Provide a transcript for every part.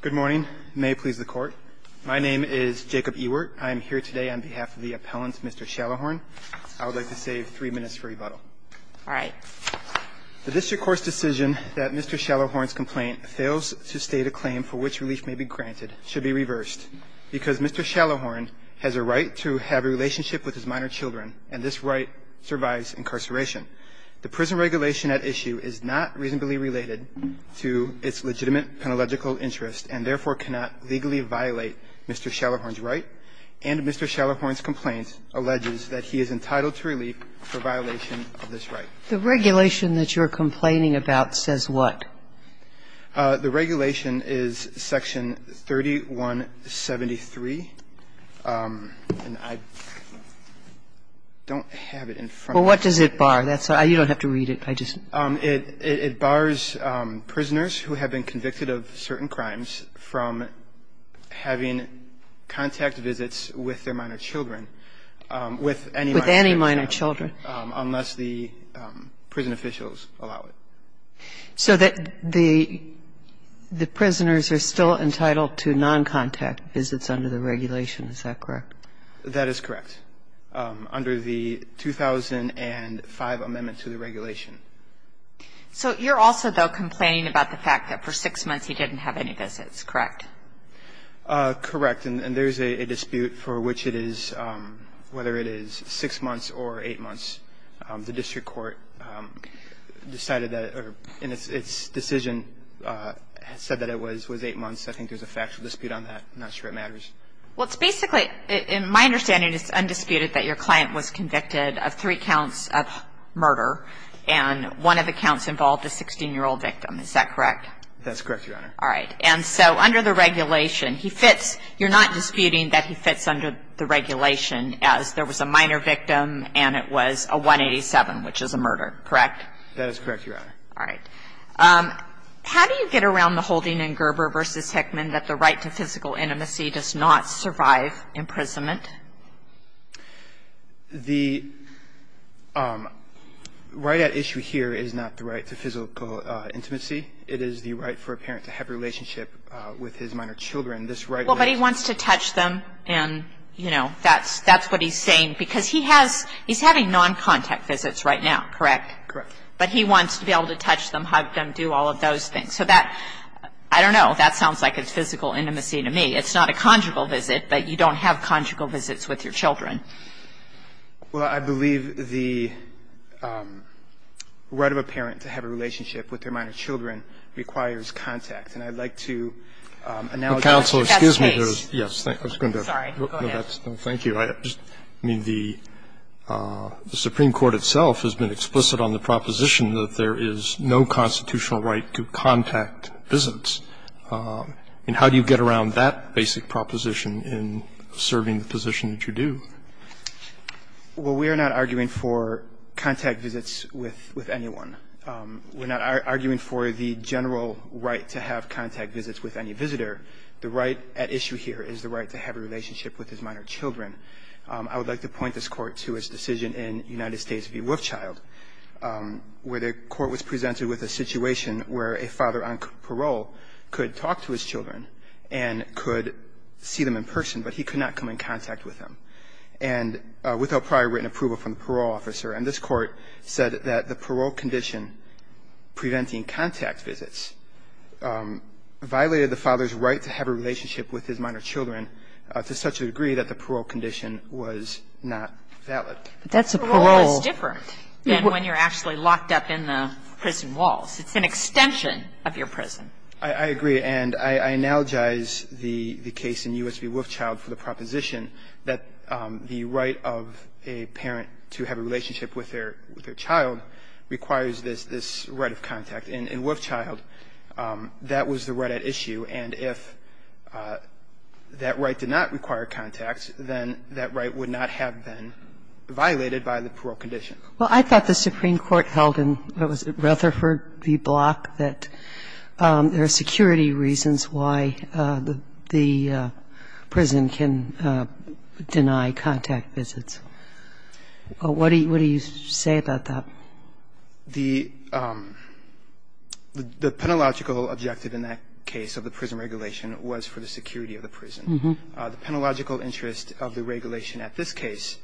Good morning. May it please the Court. My name is Jacob Ewart. I am here today on behalf of the appellant, Mr. Shallowhorn. I would like to save three minutes for rebuttal. All right. The district court's decision that Mr. Shallowhorn's complaint fails to state a claim for which relief may be granted should be reversed, because Mr. Shallowhorn has a right to have a relationship with his minor children, and this right survives incarceration. The prison regulation at issue is not reasonably related to its legitimate penalegical interest and therefore cannot legally violate Mr. Shallowhorn's right, and Mr. Shallowhorn's complaint alleges that he is entitled to relief for violation of this right. The regulation that you're complaining about says what? The regulation is Section 3173, and I don't have it in front of me. Well, what does it bar? You don't have to read it. It bars prisoners who have been convicted of certain crimes from having contact visits with their minor children, with any minor children, unless the prison officials allow it. So the prisoners are still entitled to noncontact visits under the regulation. Is that correct? That is correct. Under the 2005 amendment to the regulation. So you're also, though, complaining about the fact that for six months he didn't have any visits, correct? Correct. And there's a dispute for which it is, whether it is six months or eight months. The district court decided that, or in its decision, said that it was eight months. I think there's a factual dispute on that. I'm not sure it matters. Well, it's basically, in my understanding, it's undisputed that your client was convicted of three counts of murder, and one of the counts involved a 16-year-old victim. Is that correct? That's correct, Your Honor. All right. And so under the regulation, he fits. You're not disputing that he fits under the regulation as there was a minor victim and it was a 187, which is a murder, correct? That is correct, Your Honor. All right. How do you get around the holding in Gerber v. Hickman that the right to physical intimacy does not survive imprisonment? The right at issue here is not the right to physical intimacy. It is the right for a parent to have a relationship with his minor children. This right at issue here is not the right to physical intimacy. Well, but he wants to touch them, and, you know, that's what he's saying, because he has he's having noncontact visits right now, correct? Correct. But he wants to be able to touch them, hug them, do all of those things. So that, I don't know. That sounds like it's physical intimacy to me. It's not a conjugal visit, but you don't have conjugal visits with your children. Well, I believe the right of a parent to have a relationship with their minor children requires contact, and I'd like to acknowledge that. Counsel, excuse me. That's the case. Sorry. Go ahead. Thank you. I mean, the Supreme Court itself has been explicit on the proposition that there is no constitutional right to contact visits, and how do you get around that basic proposition in serving the position that you do? Well, we are not arguing for contact visits with anyone. We're not arguing for the general right to have contact visits with any visitor. The right at issue here is the right to have a relationship with his minor children. I would like to point this Court to its decision in United States v. Wolfchild, where the Court was presented with a situation where a father on parole could talk to his children and could see them in person, but he could not come in contact with them, and without prior written approval from the parole officer. And this Court said that the parole condition preventing contact visits violated the father's right to have a relationship with his minor children to such a degree that the parole condition was not valid. But that's a parole. Parole is different than when you're actually locked up in the prison walls. It's an extension of your prison. I agree. And I analogize the case in U.S. v. Wolfchild for the proposition that the right of a parent to have a relationship with their child requires this right of contact. In Wolfchild, that was the right at issue, and if that right did not require contact, then that right would not have been violated by the parole condition. Well, I thought the Supreme Court held in, what was it, Rutherford v. Block, that there are security reasons why the prison can deny contact visits. What do you say about that? The penalogical objective in that case of the prison regulation was for the security of the prison. The penalogical interest of the regulation at this case,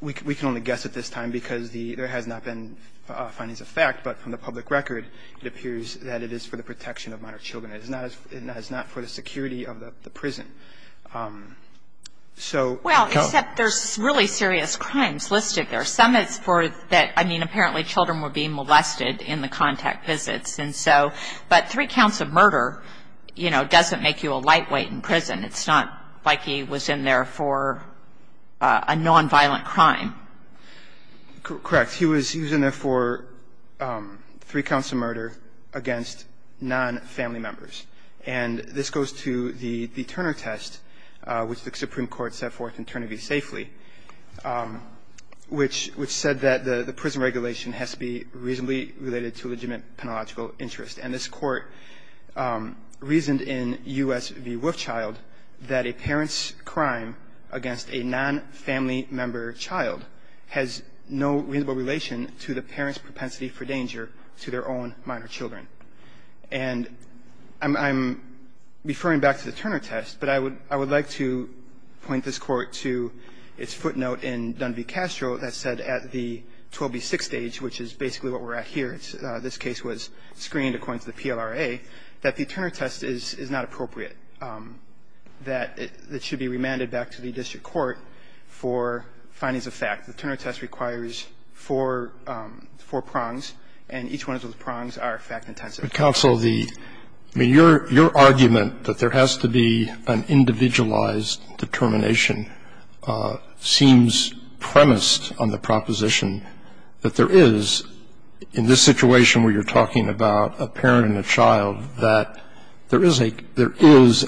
we can only guess at this time because there has not been findings of fact, but from the public record, it appears that it is for the protection of minor children. It is not for the security of the prison. Well, except there's really serious crimes listed there. Some it's for that, I mean, apparently children were being molested in the contact visits, and so, but three counts of murder, you know, doesn't make you a lightweight in prison. It's not like he was in there for a nonviolent crime. Correct. He was in there for three counts of murder against nonfamily members. And this goes to the Turner test, which the Supreme Court set forth in Turner v. Safely, which said that the prison regulation has to be reasonably related to legitimate penalogical interest. And this Court reasoned in U.S. v. Wolfchild that a parent's crime against a nonfamily member child has no reasonable relation to the parent's propensity for danger to their own minor children. And I'm referring back to the Turner test, but I would like to point this Court to its footnote in Dunleavy-Castro that said at the 12B6 stage, which is basically what we're at here, this case was screened according to the PLRA, that the Turner test is not appropriate, that it should be remanded back to the district court for findings of fact. The Turner test requires four prongs, and each one of those prongs are fact-intensive. But, counsel, the – I mean, your argument that there has to be an individualized determination seems premised on the proposition that there is, in this situation where you're talking about a parent and a child, that there is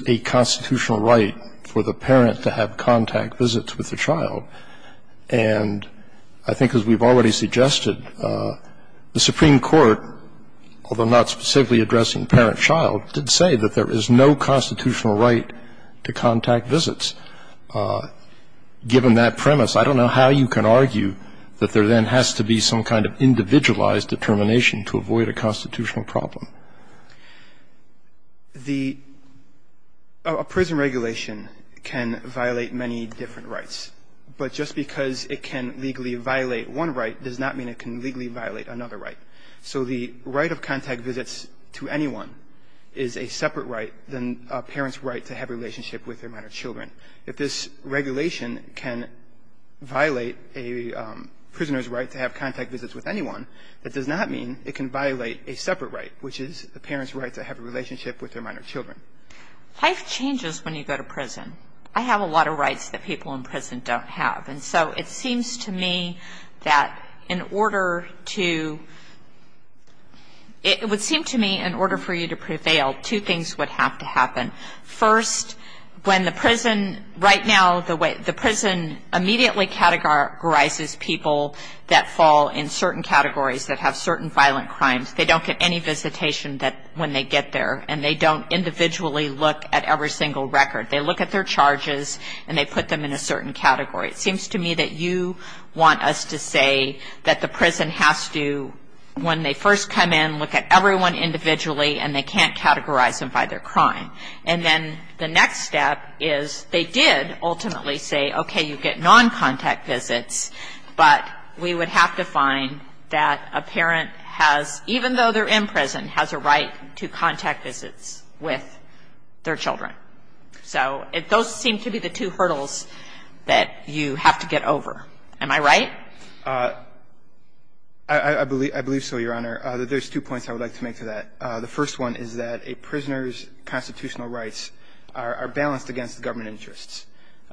a constitutional right for the parent to have contact visits with the child. And I think, as we've already suggested, the Supreme Court, although not specifically addressing parent-child, did say that there is no constitutional right to contact visits. Given that premise, I don't know how you can argue that there then has to be some kind of individualized determination to avoid a constitutional problem. The – a prison regulation can violate many different rights. But just because it can legally violate one right does not mean it can legally violate another right. So the right of contact visits to anyone is a separate right than a parent's right to have a relationship with their minor children. If this regulation can violate a prisoner's right to have contact visits with anyone, that does not mean it can violate a separate right, which is a parent's right to have a relationship with their minor children. Life changes when you go to prison. I have a lot of rights that people in prison don't have. And so it seems to me that in order to – it would seem to me in order for you to prevail, two things would have to happen. First, when the prison – right now, the way – the prison immediately categorizes people that fall in certain categories, that have certain violent crimes. They don't get any visitation that – when they get there. And they don't individually look at every single record. They look at their charges, and they put them in a certain category. It seems to me that you want us to say that the prison has to, when they first come in, look at everyone individually, and they can't categorize them by their crime. And then the next step is they did ultimately say, okay, you get non-contact visits, but we would have to find that a parent has, even though they're in prison, has a right to contact visits with their children. So those seem to be the two hurdles that you have to get over. Am I right? I believe so, Your Honor. There's two points I would like to make to that. The first one is that a prisoner's constitutional rights are balanced against government interests.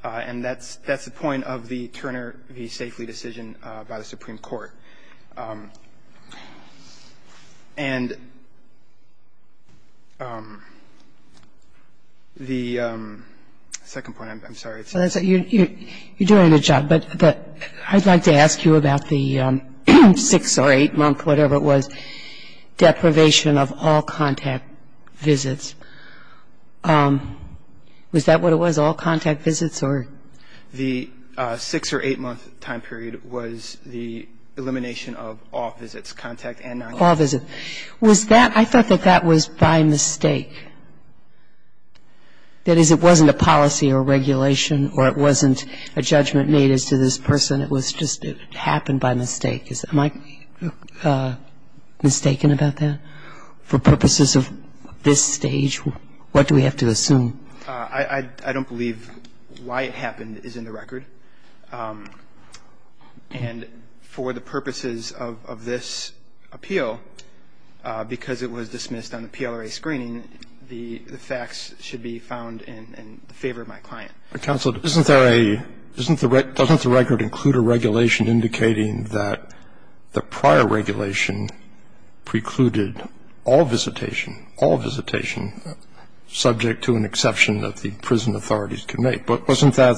And that's the point of the Turner v. Safely decision by the Supreme Court. And the second point, I'm sorry. You're doing a good job, but I'd like to ask you about the six or eight-month whatever it was, deprivation of all contact visits. Was that what it was, all contact visits, or? The six- or eight-month time period was the elimination of all visits, contact and non-contact. All visits. Was that – I thought that that was by mistake. That is, it wasn't a policy or regulation, or it wasn't a judgment made as to this So I'm not mistaken about that. For purposes of this stage, what do we have to assume? I don't believe why it happened is in the record. And for the purposes of this appeal, because it was dismissed on the PLRA screening, the facts should be found in favor of my client. Counsel, isn't there a – doesn't the record include a regulation indicating that the prior regulation precluded all visitation, all visitation, subject to an exception that the prison authorities could make? But wasn't that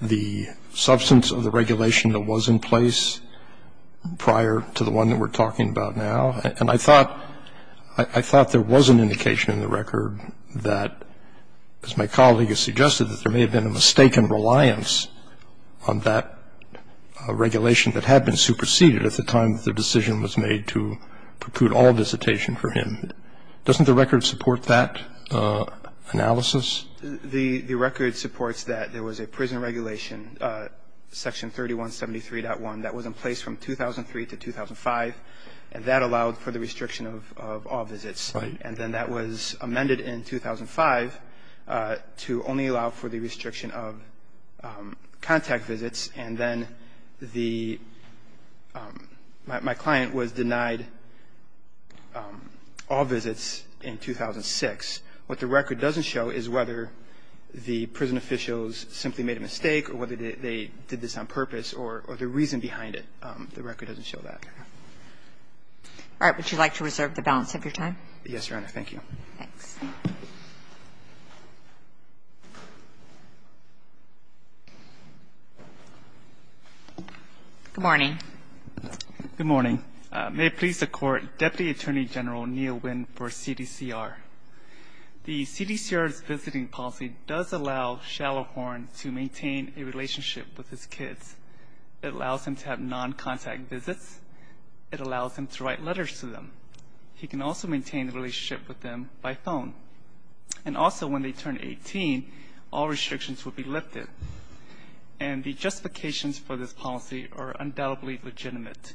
the substance of the regulation that was in place prior to the one that we're talking about now? And I thought – I thought there was an indication in the record that, as my colleague has suggested, that there may have been a mistaken reliance on that regulation that had been superseded at the time that the decision was made to preclude all visitation for him. Doesn't the record support that analysis? The record supports that there was a prison regulation, Section 3173.1, that was in place that allowed for the restriction of all visits. Right. And then that was amended in 2005 to only allow for the restriction of contact visits, and then the – my client was denied all visits in 2006. What the record doesn't show is whether the prison officials simply made a mistake or whether they did this on purpose or the reason behind it. The record doesn't show that. All right. Would you like to reserve the balance of your time? Yes, Your Honor. Thank you. Thanks. Good morning. Good morning. May it please the Court, Deputy Attorney General Neal Winn for CDCR. The CDCR's visiting policy does allow Shallowhorn to maintain a relationship with his kids. It allows him to have non-contact visits. It allows him to write letters to them. He can also maintain a relationship with them by phone. And also when they turn 18, all restrictions will be lifted. And the justifications for this policy are undoubtedly legitimate.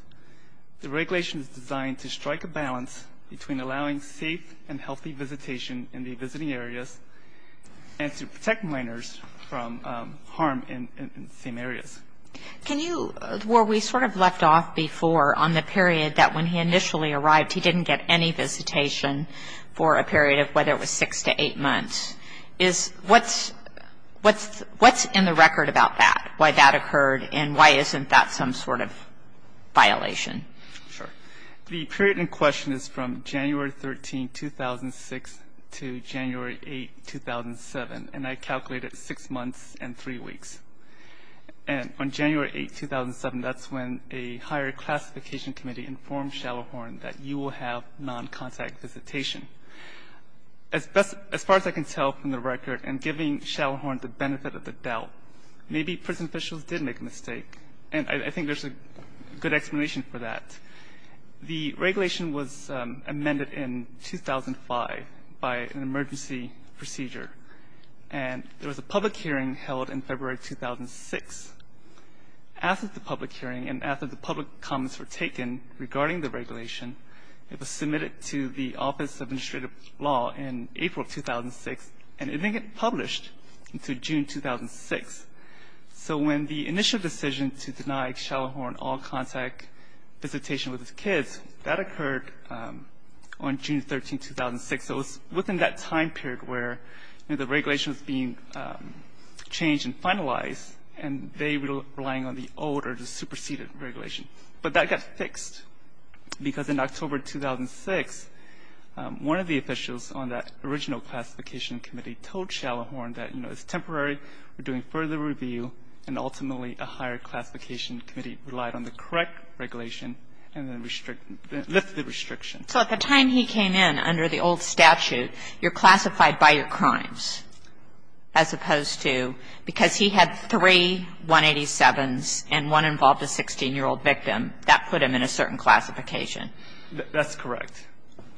The regulation is designed to strike a balance between allowing safe and healthy visitation in the visiting areas and to protect minors from harm in the same areas. Can you – where we sort of left off before on the period that when he initially arrived, he didn't get any visitation for a period of whether it was six to eight months, is what's in the record about that, why that occurred, The period in question is from January 13, 2006, to January 8, 2007. And I calculated six months and three weeks. And on January 8, 2007, that's when a higher classification committee informed Shallowhorn that you will have non-contact visitation. As far as I can tell from the record, in giving Shallowhorn the benefit of the doubt, maybe prison officials did make a mistake. And I think there's a good explanation for that. The regulation was amended in 2005 by an emergency procedure. And there was a public hearing held in February 2006. After the public hearing and after the public comments were taken regarding the regulation, it was submitted to the Office of Administrative Law in April 2006, and it didn't get published until June 2006. So when the initial decision to deny Shallowhorn all contact visitation with his kids, that occurred on June 13, 2006. So it was within that time period where, you know, the regulation was being changed and finalized, and they were relying on the old or the superseded regulation. But that got fixed, because in October 2006, one of the officials on that original classification committee told Shallowhorn that, you know, it's temporary. We're doing further review. And ultimately, a higher classification committee relied on the correct regulation and then lifted the restriction. So at the time he came in under the old statute, you're classified by your crimes, as opposed to because he had three 187s and one involved a 16-year-old victim, that put him in a certain classification. That's correct.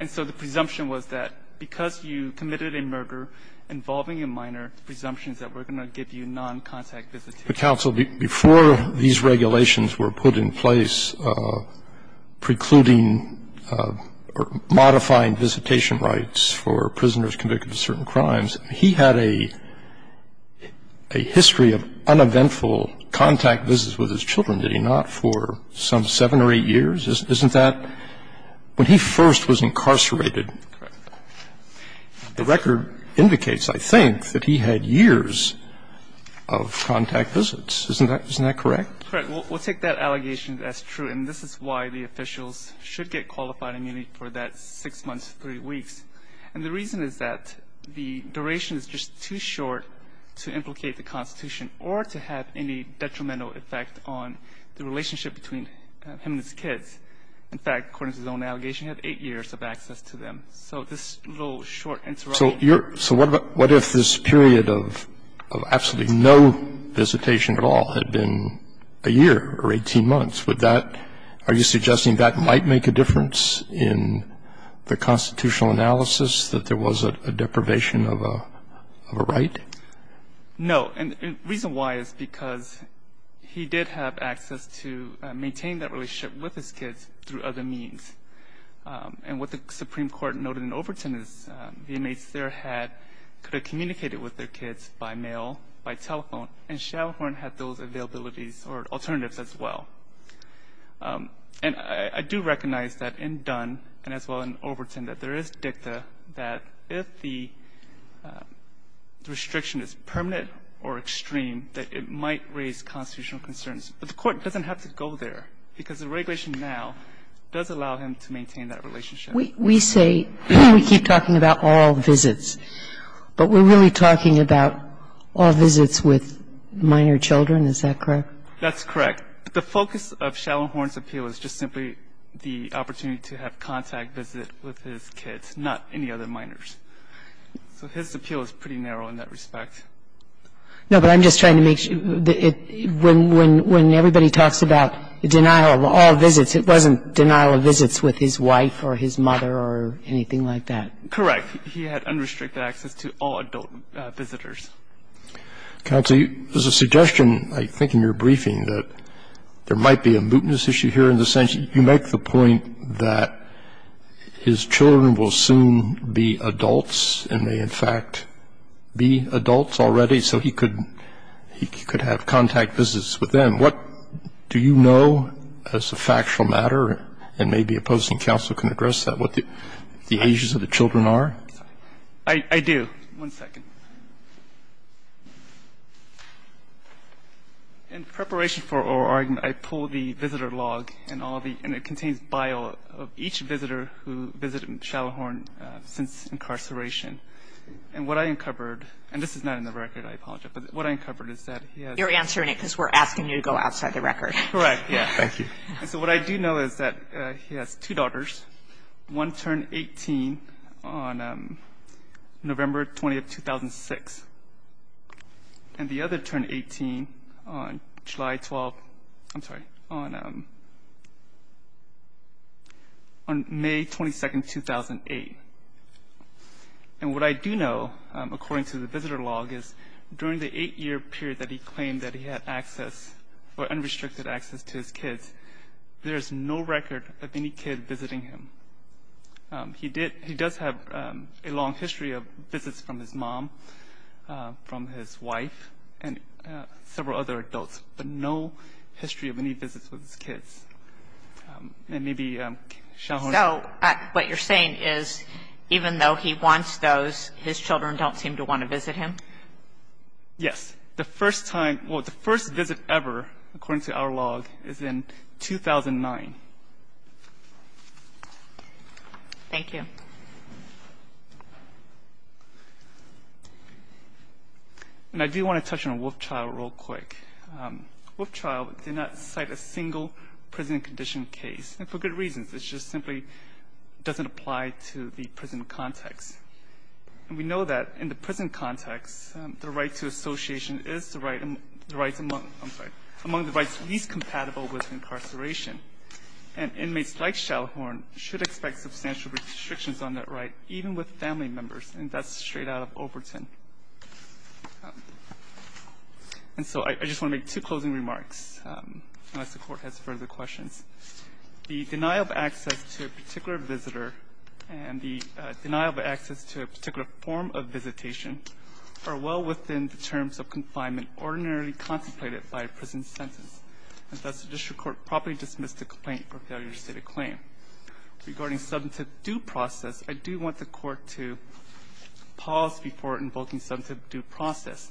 And so the presumption was that because you committed a murder involving a minor, the presumption is that we're going to give you noncontact visitation. But, counsel, before these regulations were put in place precluding or modifying visitation rights for prisoners convicted of certain crimes, he had a history of uneventful contact visits with his children, did he not, for some 7 or 8 years? Isn't that? When he first was incarcerated, the record indicates, I think, that he had years of contact visits. Isn't that correct? Correct. We'll take that allegation as true, and this is why the officials should get qualified immunity for that 6 months to 3 weeks. And the reason is that the duration is just too short to implicate the Constitution or to have any detrimental effect on the relationship between him and his kids. In fact, according to his own allegation, he had 8 years of access to them. So this little short interruption. So what if this period of absolutely no visitation at all had been a year or 18 months? Would that – are you suggesting that might make a difference in the constitutional analysis, that there was a deprivation of a right? No. And the reason why is because he did have access to maintain that relationship with his kids through other means. And what the Supreme Court noted in Overton is the inmates there had – could have communicated with their kids by mail, by telephone, and Shadowhorn had those availabilities or alternatives as well. And I do recognize that in Dunn and as well in Overton, that there is dicta that if the restriction is permanent or extreme, that it might raise constitutional concerns. But the Court doesn't have to go there because the regulation now does allow him to maintain that relationship. We say – we keep talking about all visits, but we're really talking about all visits with minor children. Is that correct? That's correct. The focus of Shadowhorn's appeal is just simply the opportunity to have contact visit with his kids, not any other minors. So his appeal is pretty narrow in that respect. No, but I'm just trying to make – when everybody talks about denial of all visits, it wasn't denial of visits with his wife or his mother or anything like that. Correct. He had unrestricted access to all adult visitors. Counsel, there's a suggestion, I think, in your briefing that there might be a mootness issue here in the sense you make the point that his children will soon be adults and may, in fact, be adults already, so he could have contact visits with them. What do you know as a factual matter, and maybe a posting counsel can address that, what the ages of the children are? I do. One second. In preparation for our argument, I pulled the visitor log and all the – and it contains each visitor who visited Shadowhorn since incarceration. And what I uncovered – and this is not in the record. I apologize. But what I uncovered is that he has – You're answering it because we're asking you to go outside the record. Correct. Yes. Thank you. So what I do know is that he has two daughters, one turned 18 on November 20th, 2006, and the other turned 18 on July 12th – I'm sorry, on May 22nd, 2008. And what I do know, according to the visitor log, is during the eight-year period that he claimed that he had access or unrestricted access to his kids, there is no record of any kid visiting him. He did – he does have a long history of visits from his mom, from his wife, and several other adults, but no history of any visits with his kids. And maybe Shadowhorn – So what you're saying is even though he wants those, his children don't seem to want to visit him? Yes. The first time – well, the first visit ever, according to our log, is in 2009. Thank you. And I do want to touch on Wolfchild real quick. Wolfchild did not cite a single prison condition case, and for good reasons. It just simply doesn't apply to the prison context. And we know that in the prison context, the right to association is the right – I'm sorry – among the rights least compatible with incarceration. And inmates like Shadowhorn should expect substantial restrictions on that right, even with family members, and that's straight out of Overton. And so I just want to make two closing remarks, unless the Court has further questions. The denial of access to a particular visitor and the denial of access to a particular form of visitation are well within the terms of confinement ordinarily contemplated by a prison sentence. And thus, the district court properly dismissed the complaint for failure to state a claim. Regarding subemptive due process, I do want the Court to pause before invoking subemptive due process.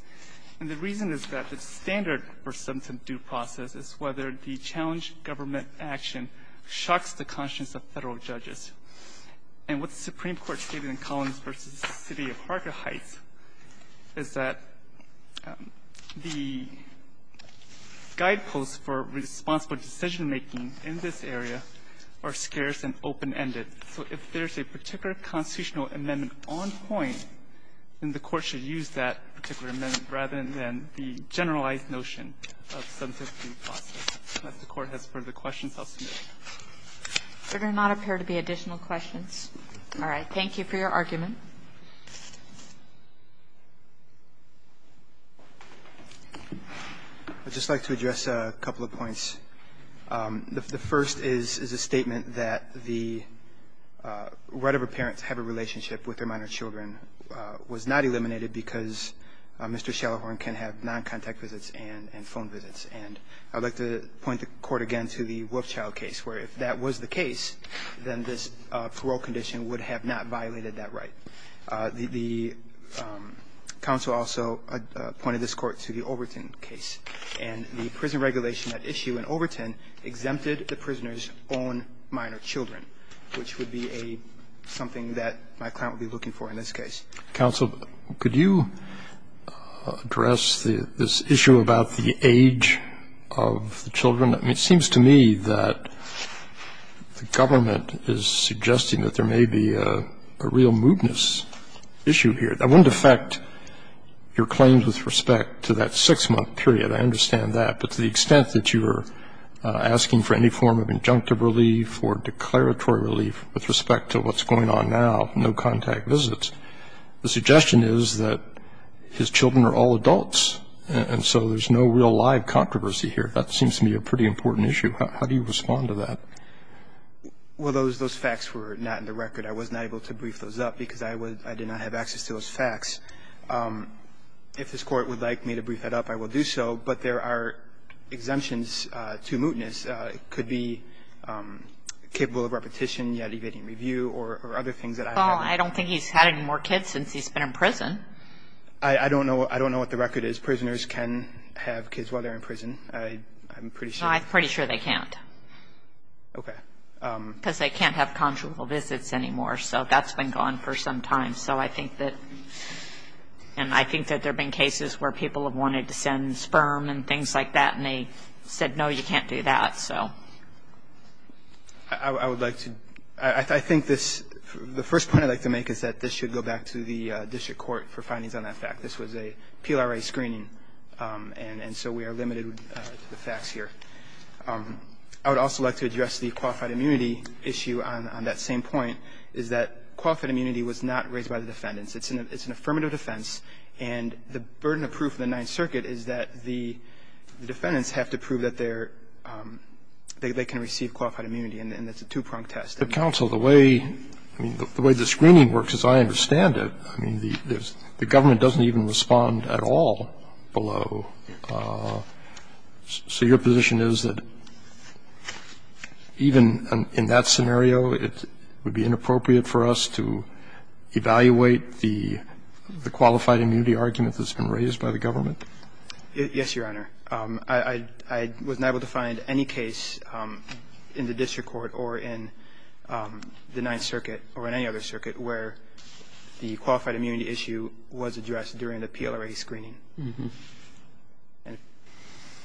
And the reason is that the standard for subemptive due process is whether the challenged government action shocks the conscience of Federal judges. And what the Supreme Court stated in Collins v. the City of Harker Heights is that the guideposts for responsible decision-making in this area are scarce and open-ended. So if there's a particular constitutional amendment on point, then the Court should use that particular amendment rather than the generalized notion of subemptive due process. Unless the Court has further questions, I'll submit it. Kagan. There do not appear to be additional questions. All right. Thank you for your argument. I'd just like to address a couple of points. The first is a statement that the right of a parent to have a relationship with their minor children was not eliminated because Mr. Shallahorn can have noncontact visits and phone visits. And I'd like to point the Court again to the Wolfchild case, where if that was the case, then this parole condition would have not violated that right. The counsel also pointed this Court to the Overton case. And the prison regulation at issue in Overton exempted the prisoner's own minor children, which would be something that my client would be looking for in this case. Counsel, could you address this issue about the age of the children? I mean, it seems to me that the government is suggesting that there may be a real moodness issue here. That wouldn't affect your claims with respect to that six-month period. I understand that. But to the extent that you are asking for any form of injunctive relief or declaratory relief with respect to what's going on now, no contact visits, the suggestion is that his children are all adults, and so there's no real live controversy here. That seems to me a pretty important issue. How do you respond to that? Well, those facts were not in the record. I was not able to brief those up because I did not have access to those facts. If this Court would like me to brief that up, I will do so. But there are exemptions to moodness. It could be capable of repetition, yet evading review, or other things that I haven't heard. Well, I don't think he's had any more kids since he's been in prison. Prisoners can have kids while they're in prison. I'm pretty sure. No, I'm pretty sure they can't. Okay. Because they can't have conjugal visits anymore. So that's been gone for some time. So I think that there have been cases where people have wanted to send sperm and things like that, and they said, no, you can't do that. I would like to – I think this – the first point I'd like to make is that this should go back to the district court for findings on that fact. This was a PLRA screening. And so we are limited to the facts here. I would also like to address the qualified immunity issue on that same point, is that qualified immunity was not raised by the defendants. It's an affirmative defense. And the burden of proof in the Ninth Circuit is that the defendants have to prove that they're – they can receive qualified immunity, and it's a two-pronged test. But, counsel, the way – I mean, the way the screening works, as I understand it, I mean, the government doesn't even respond at all below. So your position is that even in that scenario, it would be inappropriate for us to evaluate the qualified immunity argument that's been raised by the government? Yes, Your Honor. I wasn't able to find any case in the district court or in the Ninth Circuit or in any other circuit where the qualified immunity issue was addressed during the PLRA screening. And if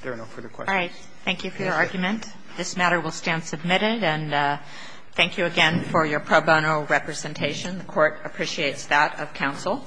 there are no further questions. All right. Thank you for your argument. This matter will stand submitted. And thank you again for your pro bono representation. The Court appreciates that of counsel.